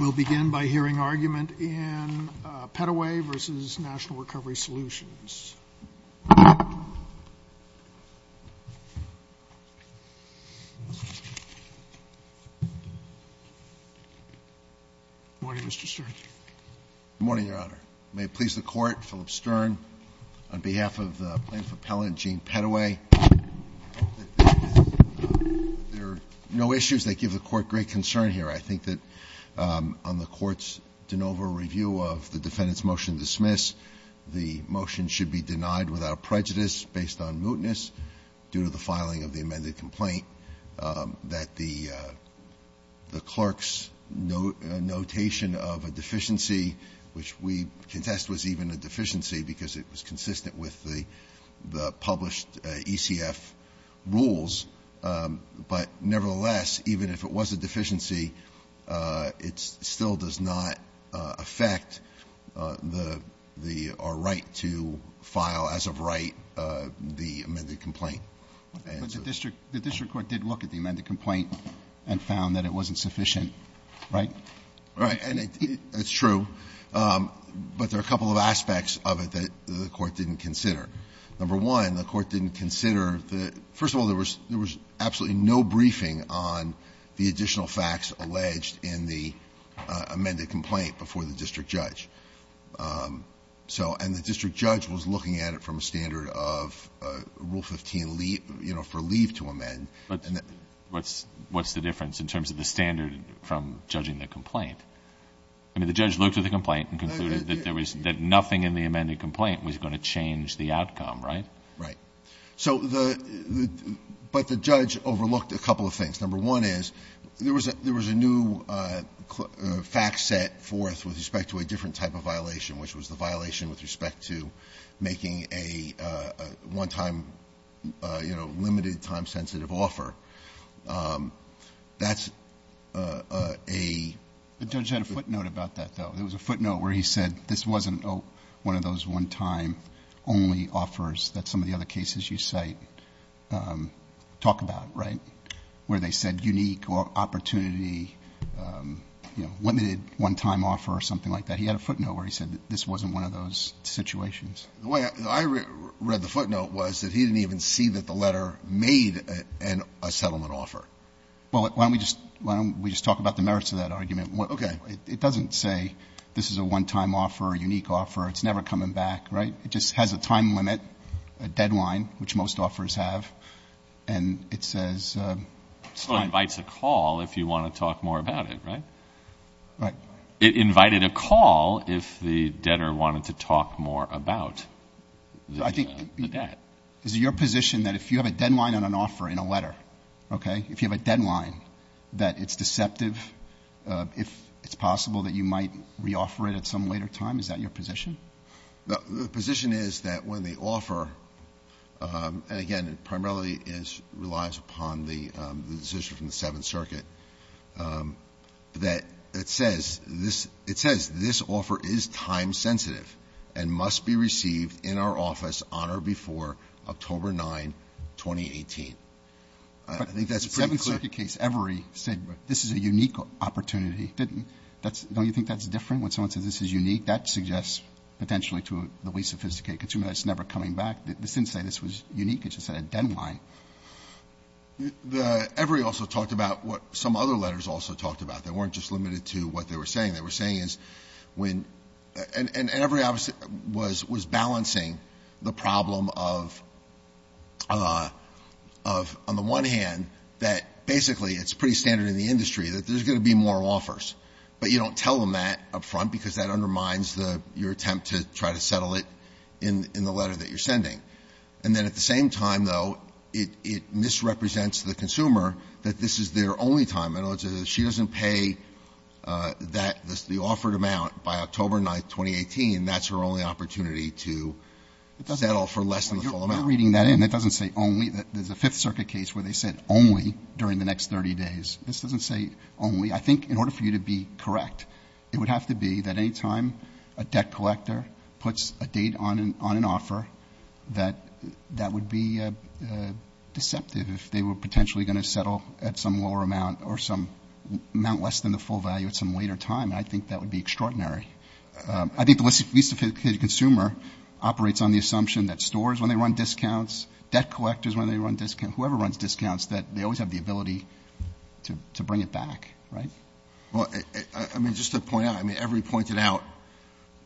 We'll begin by hearing argument in Pettaway v. National Recovery Solutions. Good morning, Mr. Stern. Good morning, Your Honor. May it please the Court, Philip Stern, on behalf of the plaintiff appellant, Gene Pettaway, that there are no issues that give the Court great concern here. I think that on the Court's de novo review of the defendant's motion to dismiss, the motion should be denied without prejudice based on mootness due to the filing of the amended complaint, that the clerk's notation of a deficiency, which we contest was even a deficiency because it was consistent with the published ECF rules. But nevertheless, even if it was a deficiency, it still does not affect our right to file as of right the amended complaint. But the district court did look at the amended complaint and found that it wasn't sufficient, right? Right. And it's true. But there are a couple of aspects of it that the Court didn't consider. Number one, the Court didn't consider the — first of all, there was absolutely no briefing on the additional facts alleged in the amended complaint before the district judge. So — and the district judge was looking at it from a standard of Rule 15, you know, for leave to amend. But what's the difference in terms of the standard from judging the complaint? I mean, the judge looked at the complaint and concluded that there was — that nothing in the amended complaint was going to change the outcome, right? Right. So the — but the judge overlooked a couple of things. Number one is, there was a new fact set forth with respect to a different type of violation, which was the violation with respect to making a one-time, you know, limited-time sensitive offer. That's a — The judge had a footnote about that, though. There was a footnote where he said this wasn't one of those one-time-only offers that some of the other cases you cite talk about, right, where they said unique opportunity, you know, limited one-time offer or something like that. He had a footnote where he said this wasn't one of those situations. The way I read the footnote was that he didn't even see that the letter made a settlement offer. Well, why don't we just talk about the merits of that argument? Okay. It doesn't say this is a one-time offer or a unique offer. It's never coming back, right? It just has a time limit, a deadline, which most offers have, and it says — Well, it invites a call if you want to talk more about it, right? Right. It invited a call if the debtor wanted to talk more about the debt. Is it your position that if you have a deadline on an offer in a letter, okay, if you have a deadline that it's deceptive, if it's possible that you might reoffer it at some later time, is that your position? The position is that when the offer — and, again, it primarily relies upon the decision from the Seventh Circuit — that it says this offer is time-sensitive and must be received in our office on or before October 9, 2018. I think that's pretty clear. But the Seventh Circuit case, Every, said this is a unique opportunity. Don't you think that's different when someone says this is unique? That suggests potentially to the way sophisticated consumers that it's never coming back. This didn't say this was unique. It just said a deadline. Every also talked about what some other letters also talked about. They weren't just limited to what they were saying. They were saying is when — and Every obviously was balancing the problem of, on the one hand, that basically it's pretty standard in the industry that there's going to be more offers, but you don't tell them that up front because that undermines your attempt to try to settle it in the letter that you're sending. And then at the same time, though, it misrepresents the consumer that this is their only time. She doesn't pay the offered amount by October 9, 2018. That's her only opportunity to settle for less than the full amount. You're reading that in. It doesn't say only. There's a Fifth Circuit case where they said only during the next 30 days. This doesn't say only. I think in order for you to be correct, it would have to be that any time a debt collector puts a date on an offer, that that would be deceptive if they were potentially going to settle at some lower amount or some amount less than the full value at some later time. I think that would be extraordinary. I think the least affected consumer operates on the assumption that stores, when they run discounts, debt collectors, when they run discounts, whoever runs discounts, that they always have the ability to bring it back. Right? Well, I mean, just to point out, I mean, every pointed out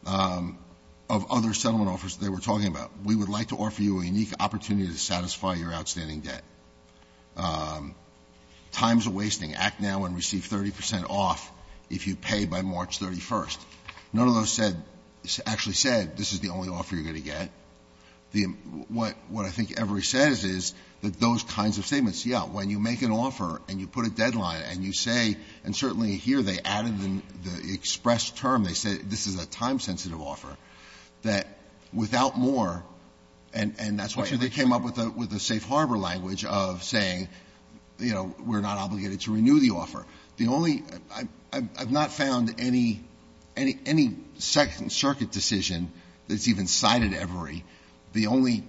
of other settlement offers they were talking about, we would like to offer you a unique opportunity to satisfy your outstanding debt. Times are wasting. Act now and receive 30 percent off if you pay by March 31st. None of those actually said this is the only offer you're going to get. What I think Everey says is that those kinds of statements, yeah, when you make an offer and you put a deadline and you say, and certainly here they added the expressed term, they said this is a time-sensitive offer, that without more, and that's why they came up with the safe harbor language of saying, you know, we're not obligated to renew the offer. The only – I've not found any Second Circuit decision that's even cited Everey. The only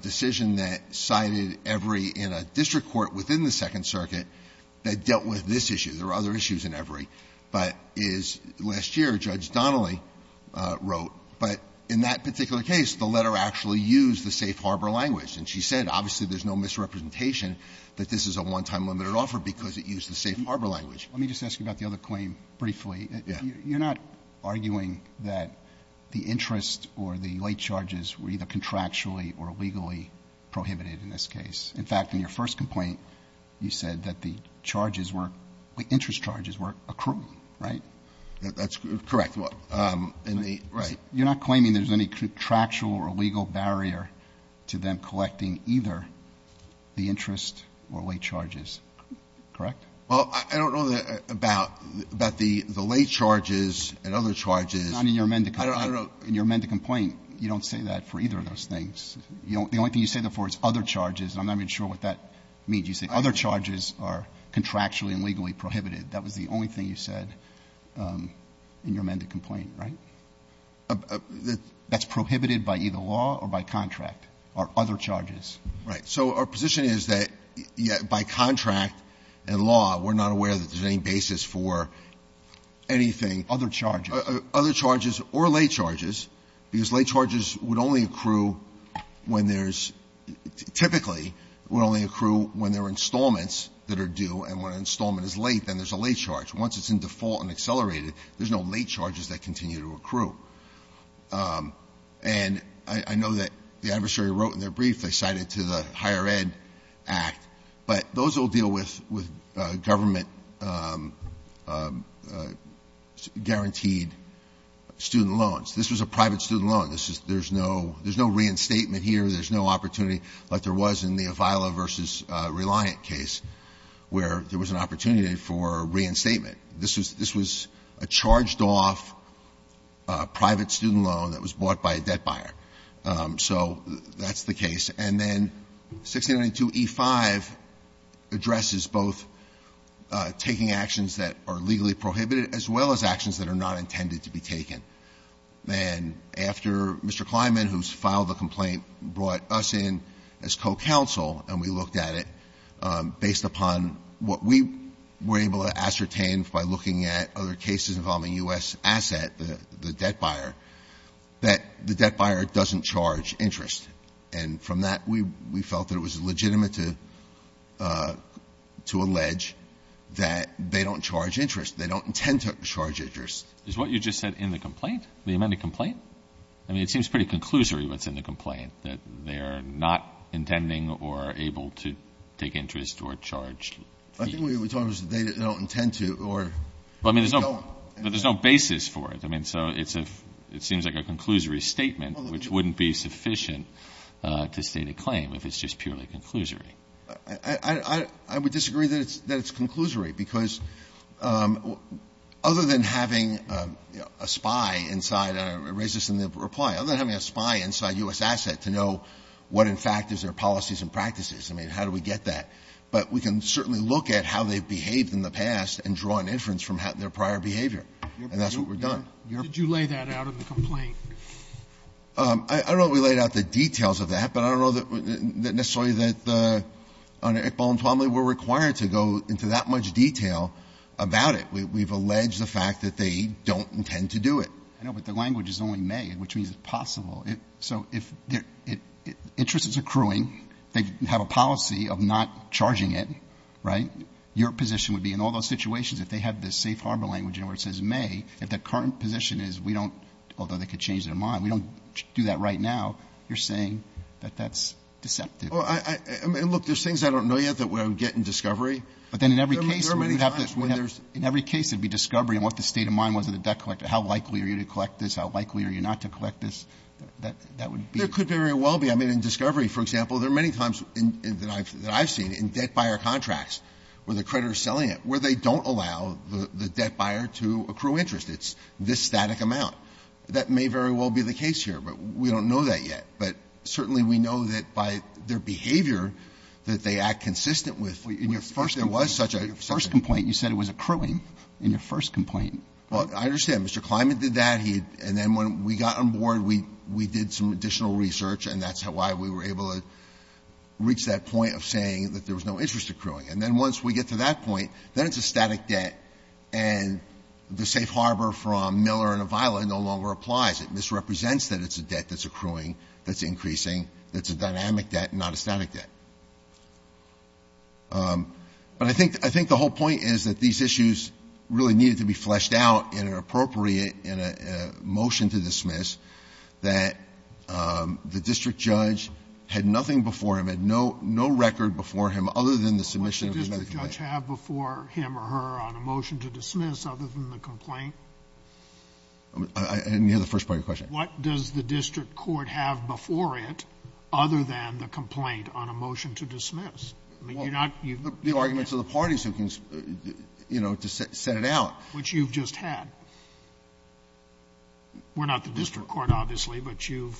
decision that cited Everey in a district court within the Second Circuit that dealt with this issue, there are other issues in Everey, but is last year, Judge Donnelly wrote. But in that particular case, the letter actually used the safe harbor language. And she said, obviously, there's no misrepresentation that this is a one-time limited offer because it used the safe harbor language. Let me just ask you about the other claim briefly. Yeah. You're not arguing that the interest or the late charges were either contractually or legally prohibited in this case. In fact, in your first complaint, you said that the charges were – the interest charges were accrual, right? That's correct. Right. You're not claiming there's any contractual or legal barrier to them collecting either the interest or late charges, correct? Well, I don't know about the late charges and other charges. Not in your amended complaint. I don't know. In your amended complaint, you don't say that for either of those things. The only thing you say therefore is other charges, and I'm not even sure what that means. You say other charges are contractually and legally prohibited. That was the only thing you said in your amended complaint, right? That's prohibited by either law or by contract are other charges. Right. So our position is that by contract and law, we're not aware that there's any basis for anything. Other charges. Other charges or late charges, because late charges would only accrue when there's – typically would only accrue when there are installments that are due, and when an installment is late, then there's a late charge. Once it's in default and accelerated, there's no late charges that continue to accrue. And I know that the adversary wrote in their brief they cited to the Higher Ed Act, but those will deal with government-guaranteed student loans. This was a private student loan. This is – there's no – there's no reinstatement here. There's no opportunity like there was in the Avila v. Reliant case, where there was an opportunity for reinstatement. This was a charged-off private student loan that was bought by a debt buyer. So that's the case. And then 1692e5 addresses both taking actions that are legally prohibited as well as actions that are not intended to be taken. And after Mr. Kleinman, who's filed the complaint, brought us in as co-counsel and we looked at it based upon what we were able to ascertain by looking at other cases involving U.S. asset, the debt buyer, that the debt buyer doesn't charge interest. And from that, we felt that it was legitimate to allege that they don't charge interest. They don't intend to charge interest. Is what you just said in the complaint? The amended complaint? I mean, it seems pretty conclusory what's in the complaint, that they're not intending or able to take interest or charge fee. I think what we're talking about is they don't intend to or they don't. Well, I mean, there's no basis for it. I mean, so it's a – it seems like a conclusory statement, which wouldn't be sufficient to state a claim if it's just purely conclusory. I would disagree that it's – that it's conclusory, because other than having a spy inside, and I raised this in the reply, other than having a spy inside U.S. Asset to know what, in fact, is their policies and practices, I mean, how do we get that? But we can certainly look at how they've behaved in the past and draw an inference from their prior behavior, and that's what we've done. Did you lay that out in the complaint? I don't know that we laid out the details of that, but I don't know that necessarily that under Iqbal and Twomley we're required to go into that much detail about it. We've alleged the fact that they don't intend to do it. I know, but the language is only may, which means it's possible. So if interest is accruing, they have a policy of not charging it, right? Your position would be in all those situations, if they have the safe harbor language in where it says may, if the current position is we don't – although they could change their mind – we don't do that right now, you're saying that that's deceptive. Well, I – look, there's things I don't know yet that we'll get in discovery. But then in every case we would have to – There are many times when there's – In every case it would be discovery and what the state of mind was of the debt collector. How likely are you to collect this? How likely are you not to collect this? That would be – There could very well be. I mean, in discovery, for example, there are many times that I've seen in debt buyer contracts where the creditor is selling it where they don't allow the debt buyer to accrue interest. It's this static amount. That may very well be the case here, but we don't know that yet. But certainly we know that by their behavior, that they act consistent with – Your first complaint, you said it was accruing in your first complaint. Well, I understand. Mr. Kleinman did that. He – and then when we got on board, we did some additional research, and that's why we were able to reach that point of saying that there was no interest accruing. And then once we get to that point, then it's a static debt. And the safe harbor from Miller and Avila no longer applies. It misrepresents that it's a debt that's accruing, that's increasing, that's a dynamic debt and not a static debt. But I think the whole point is that these issues really needed to be fleshed out in an appropriate – in a motion to dismiss that the district judge had nothing before him, had no record before him other than the submission of the medical plan. What does the district judge have before him or her on a motion to dismiss other than the complaint? And you had the first part of your question. What does the district court have before it other than the complaint on a motion to dismiss? I mean, you're not – The arguments of the parties who can, you know, to set it out. Which you've just had. We're not the district court, obviously, but you've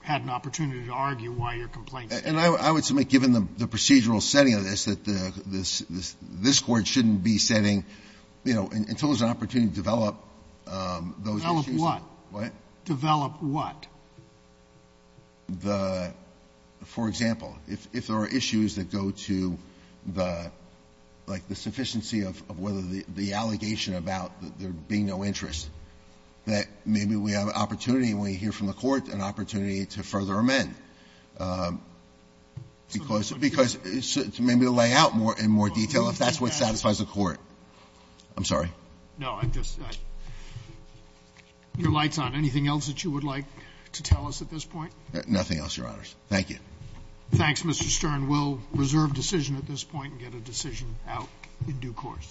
had an opportunity to argue why your complaint – And I would submit, given the procedural setting of this, that the – this court shouldn't be setting, you know, until there's an opportunity to develop those issues. Develop what? What? Develop what? The – for example, if there are issues that go to the – like the sufficiency of whether the allegation about there being no interest, that maybe we have an opportunity when we hear from the court, an opportunity to further amend. Because – maybe to lay out in more detail if that's what satisfies the court. I'm sorry. No, I'm just – your light's on. Anything else that you would like to tell us at this point? Nothing else, Your Honors. Thank you. Thanks, Mr. Stern. We'll reserve decision at this point and get a decision out in due course.